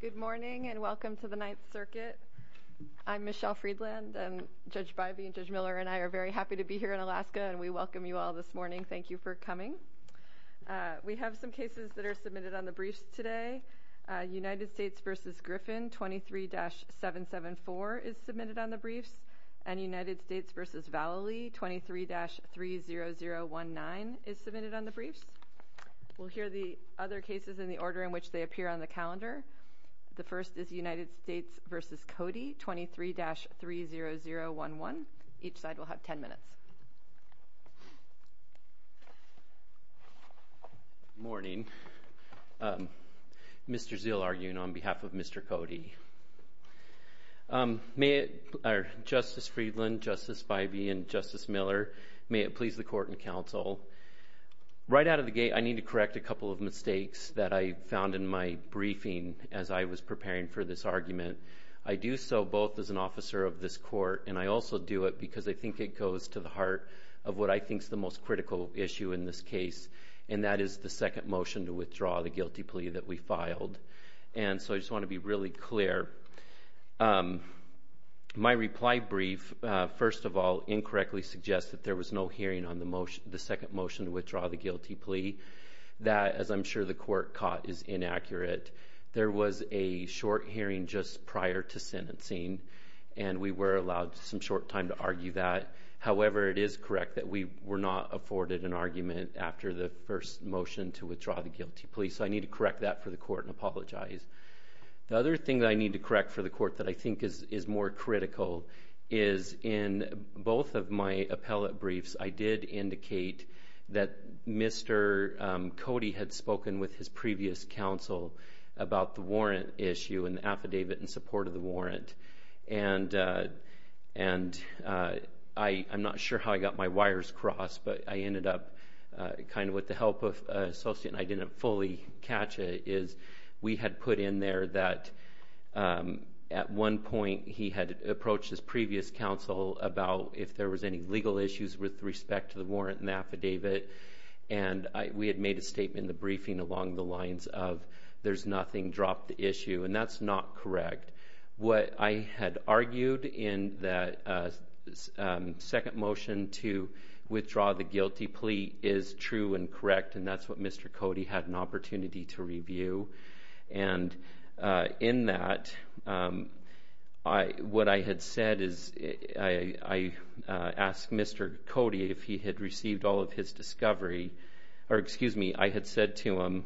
Good morning and welcome to the Ninth Circuit. I'm Michelle Freedland and Judge Bivey and Judge Miller and I are very happy to be here in Alaska and we welcome you all this morning. Thank you for coming. We have some cases that are submitted on the briefs today. United States v. Griffin 23-774 is submitted on the briefs and United States v. Vallely 23-30019 is submitted on the briefs. We'll hear the other cases in the order in which they appear on the calendar. The first is United States v. Cody 23-30011. Each side will have 10 minutes. Good morning. Mr. Zeal arguing on behalf of Mr. Cody. Justice Freedland, Justice Bivey, and Justice Miller, may it please the court and counsel. Right out of the gate I need to correct a couple of mistakes that I found in my briefing as I was preparing for this argument. I do so both as an officer of this court and I also do it because I think it goes to the heart of what I think is the most critical issue in this case and that is the second motion to withdraw the guilty plea that we filed and so I just want to be really clear. My reply brief, first of all, incorrectly suggested there was no hearing on the second motion to withdraw the guilty plea. That, as I'm sure the court caught, is inaccurate. There was a short hearing just prior to sentencing and we were allowed some short time to argue that. However, it is correct that we were not afforded an argument after the first motion to withdraw the guilty plea so I need to correct that for the court and apologize. The other thing that I need to correct for the court that I think is more critical is in both of my appellate briefs I did indicate that Mr. Cody had spoken with his previous counsel about the warrant issue and affidavit in support of the warrant and I'm not sure how I got my wires crossed but I ended up, kind of with the help of an associate and I didn't fully catch it, is we had put in there that at one point he had approached his previous counsel about if there was any legal issues with respect to the warrant and affidavit and we had made a statement in the briefing along the lines of there's nothing, drop the issue and that's not correct. What I had argued in the second motion to withdraw the guilty plea is true and correct and that's what Mr. Cody had an opportunity to review and in that what I had said is I asked Mr. Cody if he had received all of his discovery, or excuse me, I had said to him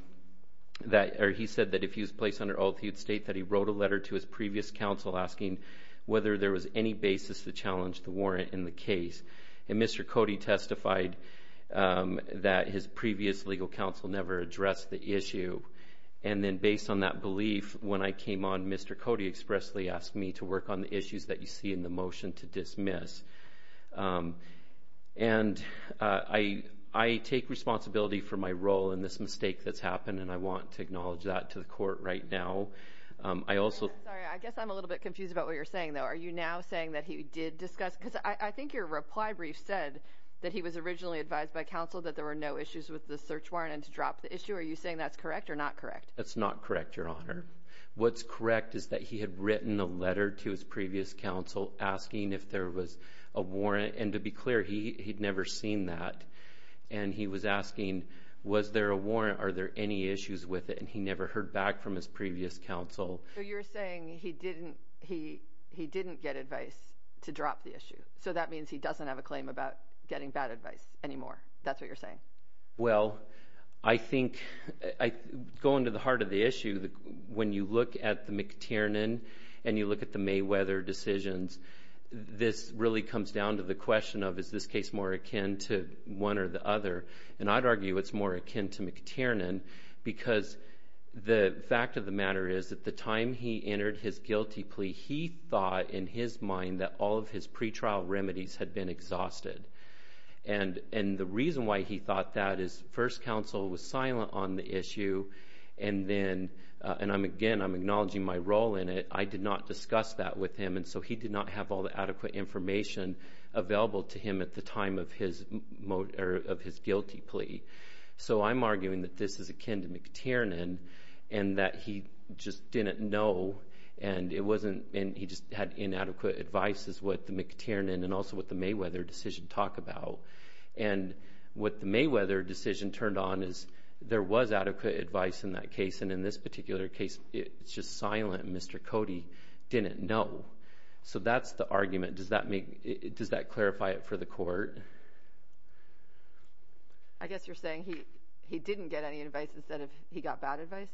that, or he said that if he was placed under oath he would state that he wrote a letter to his previous counsel asking whether there was any basis to challenge the warrant in the case and Mr. Cody testified that his previous legal counsel never addressed the issue and then based on that belief when I came on Mr. Cody expressly asked me to work on the issues that you see in the motion to dismiss and I take responsibility for my role in this mistake that's happened and I want to acknowledge that to the court right now. I also... Sorry, I guess I'm a little bit confused about what you're saying though. Are you now saying that he did discuss, because I think your reply brief said that he was originally advised by counsel that there were no issues with the search warrant and to drop the issue. Are you saying that's correct or not correct? That's not correct, Your Honor. What's correct is that he had written a letter to his previous counsel asking if there was a warrant and to be clear he'd never seen that and he was asking was there a warrant, are there any issues with it and he never heard back from his previous counsel. So you're saying he didn't get advice to drop the issue. So that means he doesn't have a claim about getting bad advice anymore. That's what you're saying. Well, I think, going to the heart of the issue, when you look at the McTiernan and you look at the Mayweather decisions, this really comes down to the question of is this case more akin to one or the other and I'd argue it's more akin to McTiernan because the fact of the matter is at the time he entered his guilty plea he thought in his mind that all of his pretrial remedies had been exhausted and the reason why he thought that is first counsel was silent on the issue and then, and again I'm acknowledging my role in it, I did not discuss that with him and so he did not have all the adequate information available to him at the time of his guilty plea. So I'm arguing that this is akin to he just didn't know and it wasn't, he just had inadequate advice is what the McTiernan and also what the Mayweather decision talk about and what the Mayweather decision turned on is there was adequate advice in that case and in this particular case it's just silent. Mr. Cody didn't know. So that's the argument. Does that make, does that clarify it for the court? I guess you're saying he didn't get any advice instead of he got bad advice?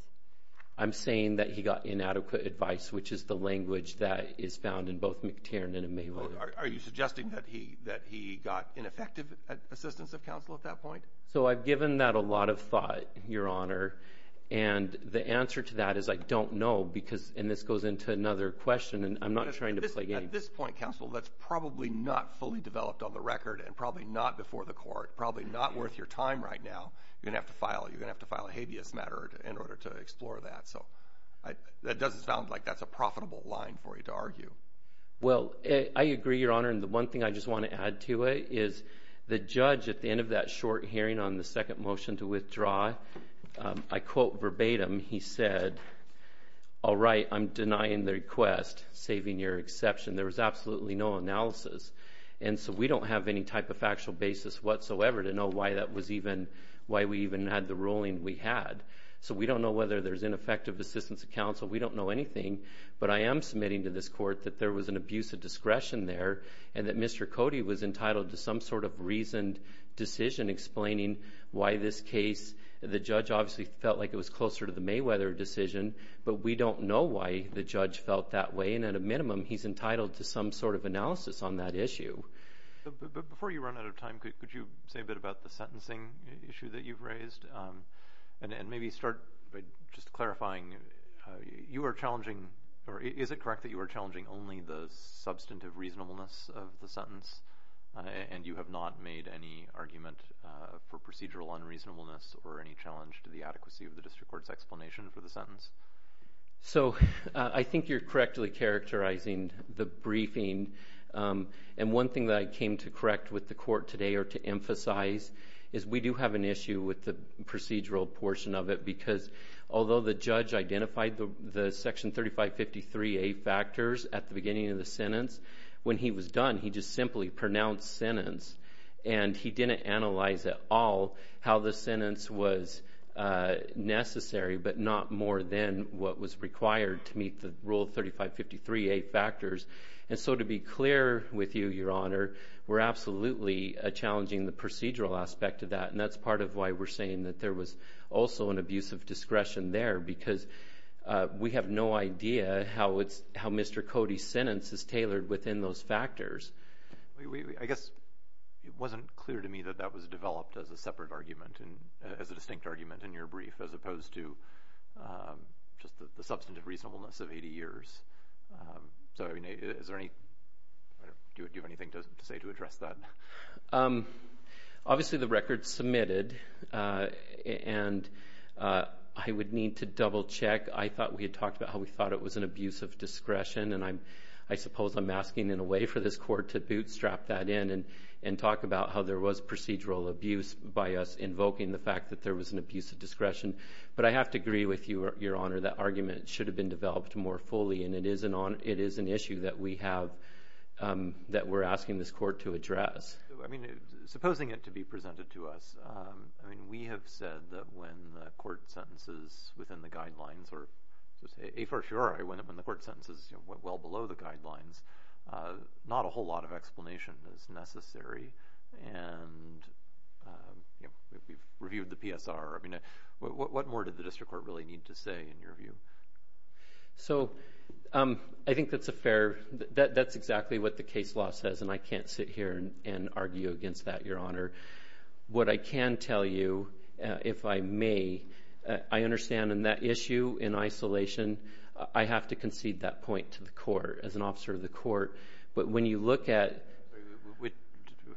I'm saying that he got inadequate advice which is the language that is found in both McTiernan and Mayweather. Are you suggesting that he got ineffective assistance of counsel at that point? So I've given that a lot of thought your honor and the answer to that is I don't know because and this goes into another question and I'm not trying to play games. At this point counsel that's probably not fully developed on the record and probably not before the court, probably not worth your time right now. You're going to have to file a habeas matter in order to explore that. So that doesn't sound like that's a profitable line for you to argue. Well I agree your honor and the one thing I just want to add to it is the judge at the end of that short hearing on the second motion to withdraw, I quote verbatim he said, all right I'm denying the request, saving your exception. There was absolutely no analysis and so we don't have any type of factual basis whatsoever to know why that was even, why we even had the ruling we had. So we don't know whether there's ineffective assistance of counsel. We don't know anything but I am submitting to this court that there was an abuse of discretion there and that Mr. Cody was entitled to some sort of reasoned decision explaining why this case, the judge obviously felt like it was closer to the Mayweather decision but we don't know why the judge felt that way and at a minimum he's entitled to some sort of analysis on that issue. Before you run out of time could you say a bit about the sentencing issue that you've raised and maybe start by just clarifying, you are challenging or is it correct that you are challenging only the substantive reasonableness of the sentence and you have not made any argument for procedural unreasonableness or any challenge to the adequacy of the district court's explanation for the sentence? So I think you're correctly characterizing the briefing and one thing that I came to correct with the court today or to emphasize is we do have an issue with the procedural portion of it because although the judge identified the section 3553A factors at the beginning of the sentence, when he was done he just simply pronounced sentence and he didn't analyze at all how the sentence was necessary but not more than what was required to meet the rule 3553A factors. And so to be clear with you, your honor, we're absolutely challenging the procedural aspect of that and that's part of why we're saying that there was also an abuse of discretion there because we have no idea how Mr. Cody's sentence is tailored within those factors. I guess it wasn't clear to me that that was developed as a separate argument and as a distinct argument in your brief as opposed to just the substantive reasonableness of 80 years. Do you have anything to say to address that? Obviously the record submitted and I would need to double check. I thought we had talked about how we thought it was an abuse of discretion and I suppose I'm asking in a way for this court to bootstrap that in and talk about how there was procedural abuse by us invoking the fact that there was an abuse of discretion. But I have to agree with you, your honor, that argument should have been developed more fully and it is an issue that we're asking this court to address. Supposing it to be presented to us, we have said that when the court sentences within the guidelines or when the court sentences well below the guidelines, not a whole lot of explanation is necessary and we've reviewed the PSR. What more did the district court really need to say in your view? I think that's exactly what the case law says and I can't sit here and argue against that, your honor. What I can tell you, if I may, I understand in that issue in isolation, I have to concede that point to the court as an officer of the court. But when you look at...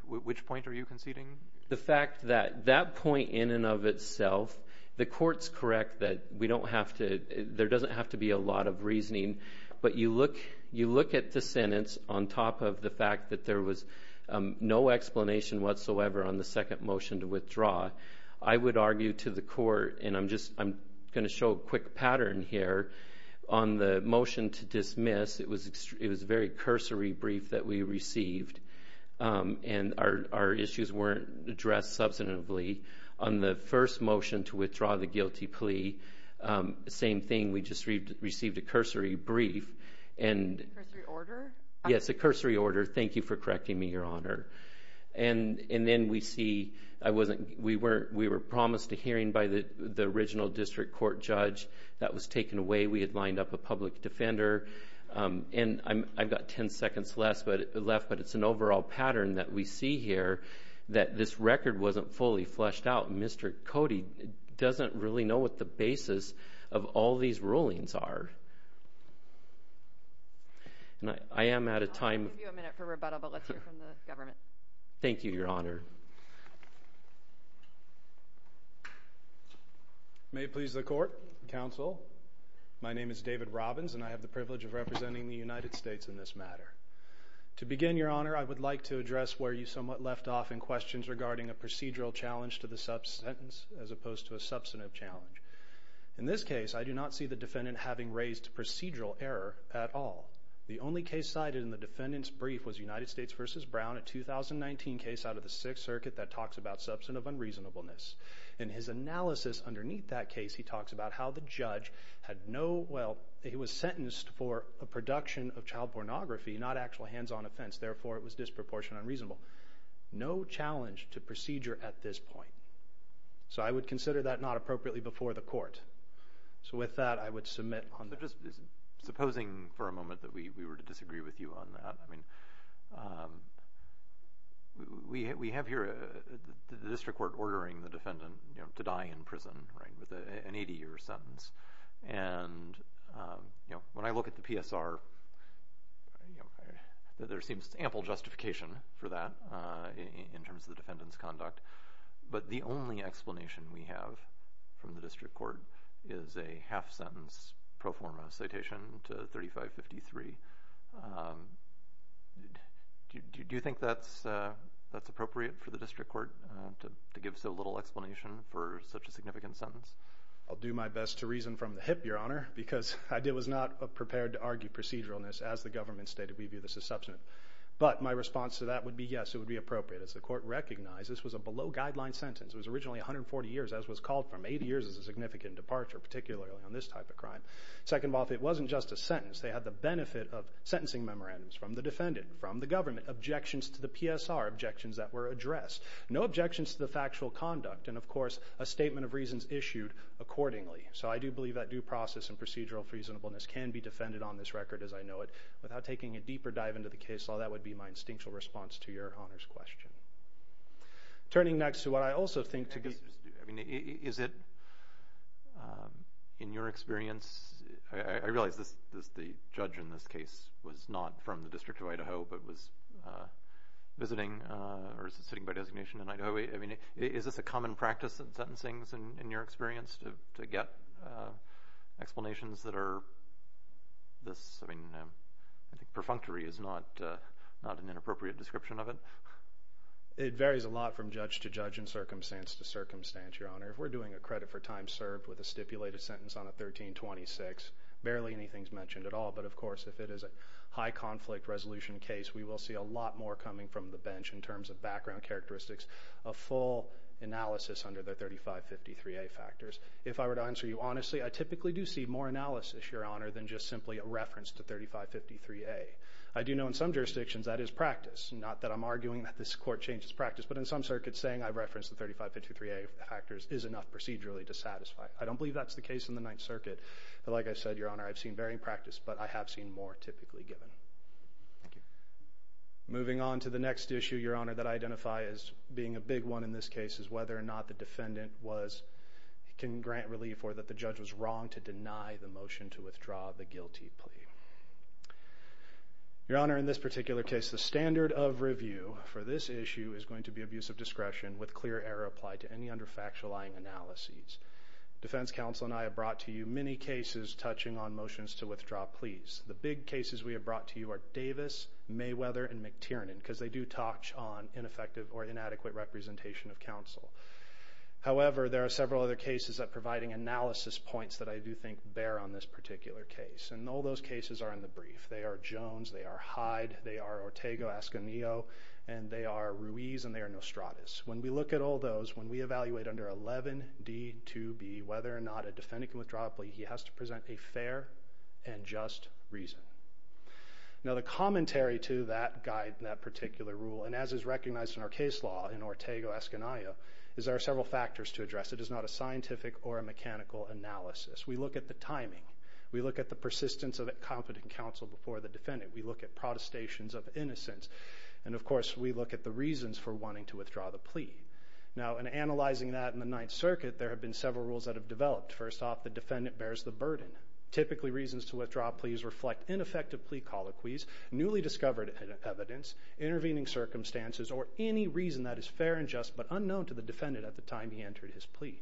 Which point are you conceding? The fact that that point in and of itself, the court's correct that we don't have to, there doesn't have to be a lot of reasoning, but you look at the sentence on top of the on the second motion to withdraw, I would argue to the court and I'm going to show a quick pattern here. On the motion to dismiss, it was a very cursory brief that we received and our issues weren't addressed substantively. On the first motion to withdraw the guilty plea, same thing. We just received a cursory brief and... A cursory order? Yes, a cursory order. Thank you for correcting me, your honor. And then we see, we were promised a hearing by the original district court judge. That was taken away. We had lined up a public defender. And I've got 10 seconds left, but it's an overall pattern that we see here that this record wasn't fully fleshed out. Mr. Cody doesn't really know what the basis of all these rulings are. I am out of time. I'll give you a minute for rebuttal, but let's hear from the government. Thank you, your honor. May it please the court, counsel. My name is David Robbins and I have the privilege of representing the United States in this matter. To begin, your honor, I would like to address where you somewhat left off in questions regarding a procedural challenge to the subsentence as opposed to a substantive challenge. In this case, I do not see the defendant having raised procedural error at all. The only case cited in the defendant's brief was United States v. Brown, a 2019 case out of the Sixth Circuit that talks about substantive unreasonableness. In his analysis underneath that case, he talks about how the judge had no, well, he was sentenced for a production of child pornography, not actual hands-on offense. Therefore, it was disproportionately unreasonable. No challenge to procedure at this point. So I would consider that not appropriately before the court. So with that, I would submit on that. I'm just supposing for a moment that we were to disagree with you on that. We have here the district court ordering the defendant to die in prison with an 80-year sentence. And when I look at the PSR, there seems ample justification for that in terms of the defendant's conduct. But the only explanation we have from the district court is a half-sentence pro forma citation to 3553. Do you think that's appropriate for the district court to give so little explanation for such a significant sentence? I'll do my best to reason from the hip, Your Honor, because I was not prepared to argue proceduralness. As the government stated, we view this as substantive. But my response to that would be yes, it would be appropriate. As the court recognized, this was a below-guideline sentence. It was originally 140 years, as was called from. Eight years is a significant departure, particularly on this type of crime. Second off, it wasn't just a sentence. They had the benefit of sentencing memorandums from the defendant, from the government, objections to the PSR, objections that were addressed. No objections to the factual conduct. And, of course, a statement of reasons issued accordingly. So I do believe that due process and procedural reasonableness can be defended on this record as I know it. Without taking a deeper dive into the case law, that would be my instinctual response to Your Honor's question. Turning next to what I also think to be— Is it, in your experience—I realize the judge in this case was not from the District of Idaho, but was visiting or is sitting by designation in Idaho. Is this a common practice in sentencing, in your experience, to get explanations that are this— I think perfunctory is not an inappropriate description of it. It varies a lot from judge to judge and circumstance to circumstance, Your Honor. If we're doing a credit for time served with a stipulated sentence on a 1326, barely anything is mentioned at all. But, of course, if it is a high-conflict resolution case, we will see a lot more coming from the bench in terms of background characteristics, a full analysis under the 3553A factors. If I were to answer you honestly, I typically do see more analysis, Your Honor, than just simply a reference to 3553A. I do know in some jurisdictions that is practice. Not that I'm arguing that this Court changes practice, but in some circuits saying I reference the 3553A factors is enough procedurally to satisfy. I don't believe that's the case in the Ninth Circuit. Like I said, Your Honor, I've seen varying practice, but I have seen more typically given. Thank you. Moving on to the next issue, Your Honor, that I identify as being a big one in this case is whether or not the defendant can grant relief or that the judge was wrong to deny the motion to withdraw the guilty plea. Your Honor, in this particular case, the standard of review for this issue is going to be abuse of discretion with clear error applied to any under-factualizing analyses. Defense counsel and I have brought to you many cases touching on motions to withdraw pleas. The big cases we have brought to you are Davis, Mayweather, and McTiernan because they do touch on ineffective or inadequate representation of counsel. However, there are several other cases that are providing analysis points that I do think bear on this particular case. And all those cases are in the brief. They are Jones, they are Hyde, they are Ortega-Ascanillo, and they are Ruiz, and they are Nostradas. When we look at all those, when we evaluate under 11D2B, whether or not a defendant can withdraw a plea, he has to present a fair and just reason. Now the commentary to that guide in that particular rule, and as is recognized in our case law in Ortega-Ascanillo, is there are several factors to address. It is not a scientific or a mechanical analysis. We look at the timing. We look at the persistence of a competent counsel before the defendant. We look at protestations of innocence. And, of course, we look at the reasons for wanting to withdraw the plea. Now, in analyzing that in the Ninth Circuit, there have been several rules that have developed. First off, the defendant bears the burden. Typically, reasons to withdraw pleas reflect ineffective plea colloquies, newly discovered evidence, intervening circumstances, or any reason that is fair and just but unknown to the defendant at the time he entered his plea.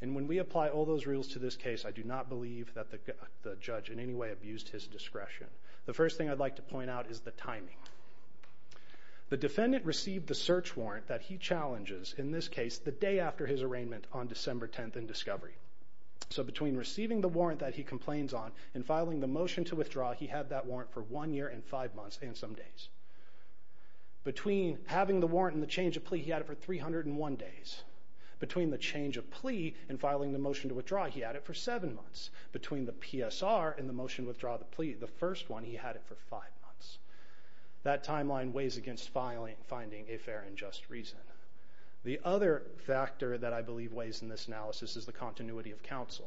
And when we apply all those rules to this case, I do not believe that the judge in any way abused his discretion. The first thing I'd like to point out is the timing. The defendant received the search warrant that he challenges, in this case, the day after his arraignment on December 10th in discovery. So between receiving the warrant that he complains on and filing the motion to withdraw, he had that warrant for one year and five months and some days. Between having the warrant and the change of plea, he had it for 301 days. Between the change of plea and filing the motion to withdraw, he had it for seven months. Between the PSR and the motion to withdraw the plea, the first one, he had it for five months. That timeline weighs against finding a fair and just reason. The other factor that I believe weighs in this analysis is the continuity of counsel.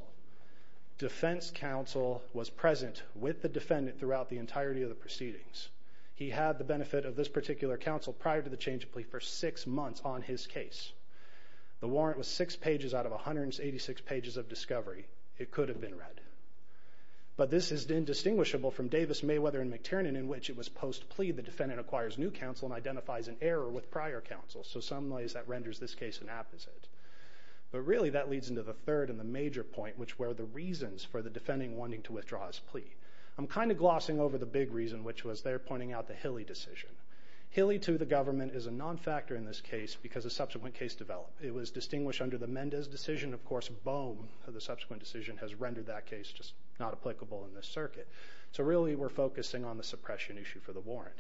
Defense counsel was present with the defendant throughout the entirety of the proceedings. He had the benefit of this particular counsel prior to the change of plea for six months on his case. The warrant was six pages out of 186 pages of discovery. It could have been read. But this is indistinguishable from Davis, Mayweather, and McTiernan, in which it was post-plea the defendant acquires new counsel and identifies an error with prior counsel. So in some ways that renders this case an apposite. But really that leads into the third and the major point, which were the reasons for the defendant wanting to withdraw his plea. I'm kind of glossing over the big reason, which was they're pointing out the Hilley decision. Hilley to the government is a non-factor in this case because a subsequent case developed. It was distinguished under the Mendez decision. Of course, Bohm, the subsequent decision, has rendered that case just not applicable in this circuit. So really we're focusing on the suppression issue for the warrant.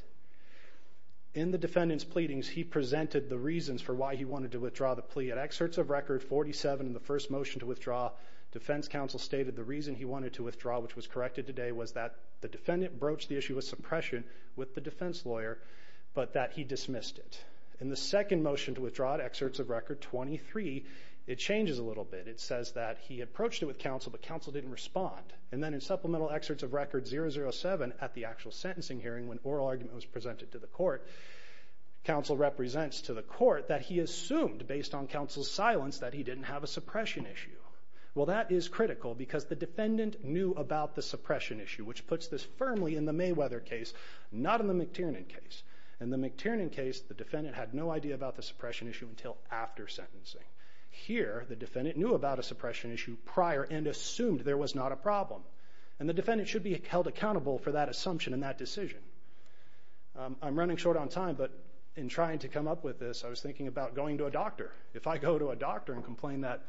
In the defendant's pleadings, he presented the reasons for why he wanted to withdraw the plea. At excerpts of record 47 in the first motion to withdraw, defense counsel stated the reason he wanted to withdraw, which was corrected today, was that the defendant broached the issue of suppression with the defense lawyer, but that he dismissed it. In the second motion to withdraw at excerpts of record 23, it changes a little bit. It says that he approached it with counsel, but counsel didn't respond. And then in supplemental excerpts of record 007 at the actual sentencing hearing, when oral argument was presented to the court, counsel represents to the court that he assumed, based on counsel's silence, that he didn't have a suppression issue. Well, that is critical because the defendant knew about the suppression issue, which puts this firmly in the Mayweather case, not in the McTiernan case. In the McTiernan case, the defendant had no idea about the suppression issue until after sentencing. Here, the defendant knew about a suppression issue prior and assumed there was not a problem, and the defendant should be held accountable for that assumption and that decision. I'm running short on time, but in trying to come up with this, I was thinking about going to a doctor. If I go to a doctor and complain that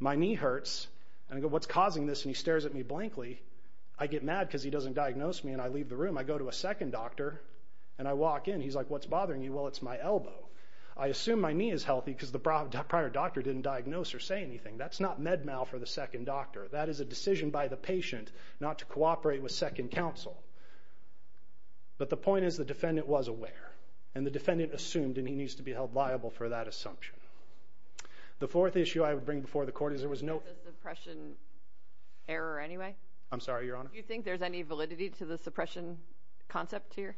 my knee hurts, and I go, what's causing this, and he stares at me blankly, I get mad because he doesn't diagnose me, and I leave the room. I go to a second doctor, and I walk in. He's like, what's bothering you? Well, it's my elbow. I assume my knee is healthy because the prior doctor didn't diagnose or say anything. That's not med mal for the second doctor. That is a decision by the patient not to cooperate with second counsel. But the point is the defendant was aware, and the defendant assumed, and he needs to be held liable for that assumption. The fourth issue I would bring before the court is there was no suppression error anyway. I'm sorry, Your Honor. Do you think there's any validity to the suppression concept here?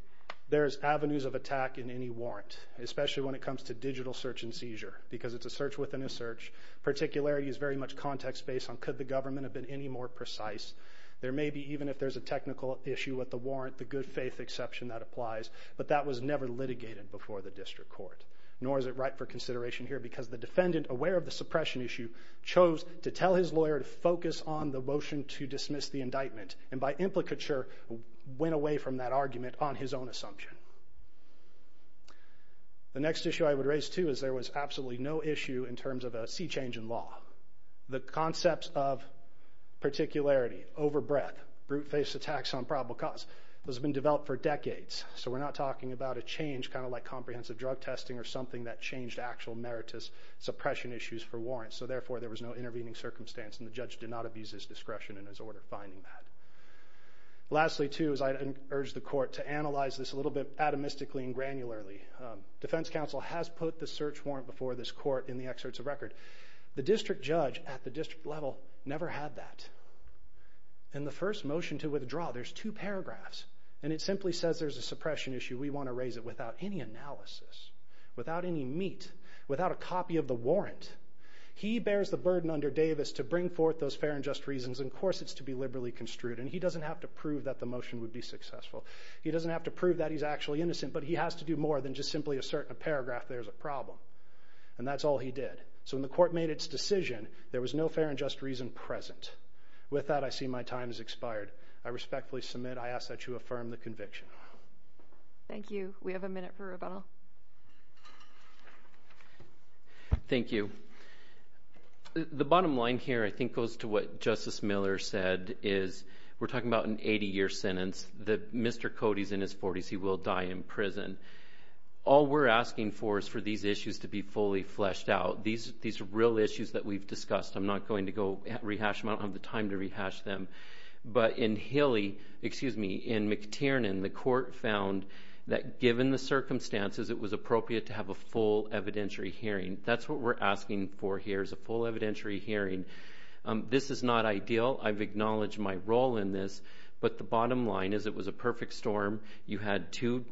There's avenues of attack in any warrant, especially when it comes to digital search and seizure because it's a search within a search. Particularity is very much context-based on could the government have been any more precise. There may be, even if there's a technical issue with the warrant, the good faith exception that applies, but that was never litigated before the district court, nor is it right for consideration here because the defendant, aware of the suppression issue, chose to tell his lawyer to focus on the motion to dismiss the indictment and by implicature went away from that argument on his own assumption. The next issue I would raise, too, is there was absolutely no issue in terms of a sea change in law. The concepts of particularity, over-breath, brute-face attacks on probable cause, those have been developed for decades, so we're not talking about a change kind of like comprehensive drug testing or something that changed actual meritus suppression issues for warrants, so therefore there was no intervening circumstance and the judge did not abuse his discretion in his order finding that. Lastly, too, is I urge the court to analyze this a little bit atomistically and granularly. Defense counsel has put the search warrant before this court in the excerpts of record. The district judge at the district level never had that. In the first motion to withdraw, there's two paragraphs, and it simply says there's a suppression issue. We want to raise it without any analysis, without any meat, without a copy of the warrant. He bears the burden under Davis to bring forth those fair and just reasons, and, of course, it's to be liberally construed, and he doesn't have to prove that the motion would be successful. He doesn't have to prove that he's actually innocent, but he has to do more than just simply assert in a paragraph there's a problem, and that's all he did. So when the court made its decision, there was no fair and just reason present. With that, I see my time has expired. I respectfully submit I ask that you affirm the conviction. Thank you. We have a minute for rebuttal. Thank you. The bottom line here I think goes to what Justice Miller said, is we're talking about an 80-year sentence, that Mr. Cody's in his 40s, he will die in prison. All we're asking for is for these issues to be fully fleshed out. These are real issues that we've discussed. I'm not going to go rehash them. But in McTiernan, the court found that given the circumstances, it was appropriate to have a full evidentiary hearing. That's what we're asking for here is a full evidentiary hearing. This is not ideal. I've acknowledged my role in this, but the bottom line is it was a perfect storm. You had two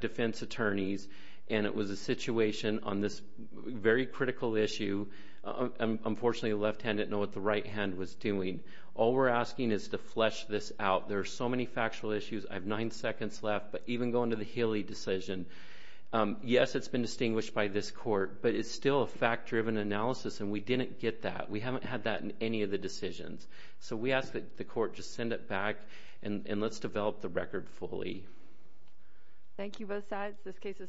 defense attorneys, and it was a situation on this very critical issue. Unfortunately, the left hand didn't know what the right hand was doing. All we're asking is to flesh this out. There are so many factual issues. I have nine seconds left. But even going to the Healy decision, yes, it's been distinguished by this court, but it's still a fact-driven analysis, and we didn't get that. We haven't had that in any of the decisions. So we ask that the court just send it back, and let's develop the record fully. Thank you, both sides. This case is submitted.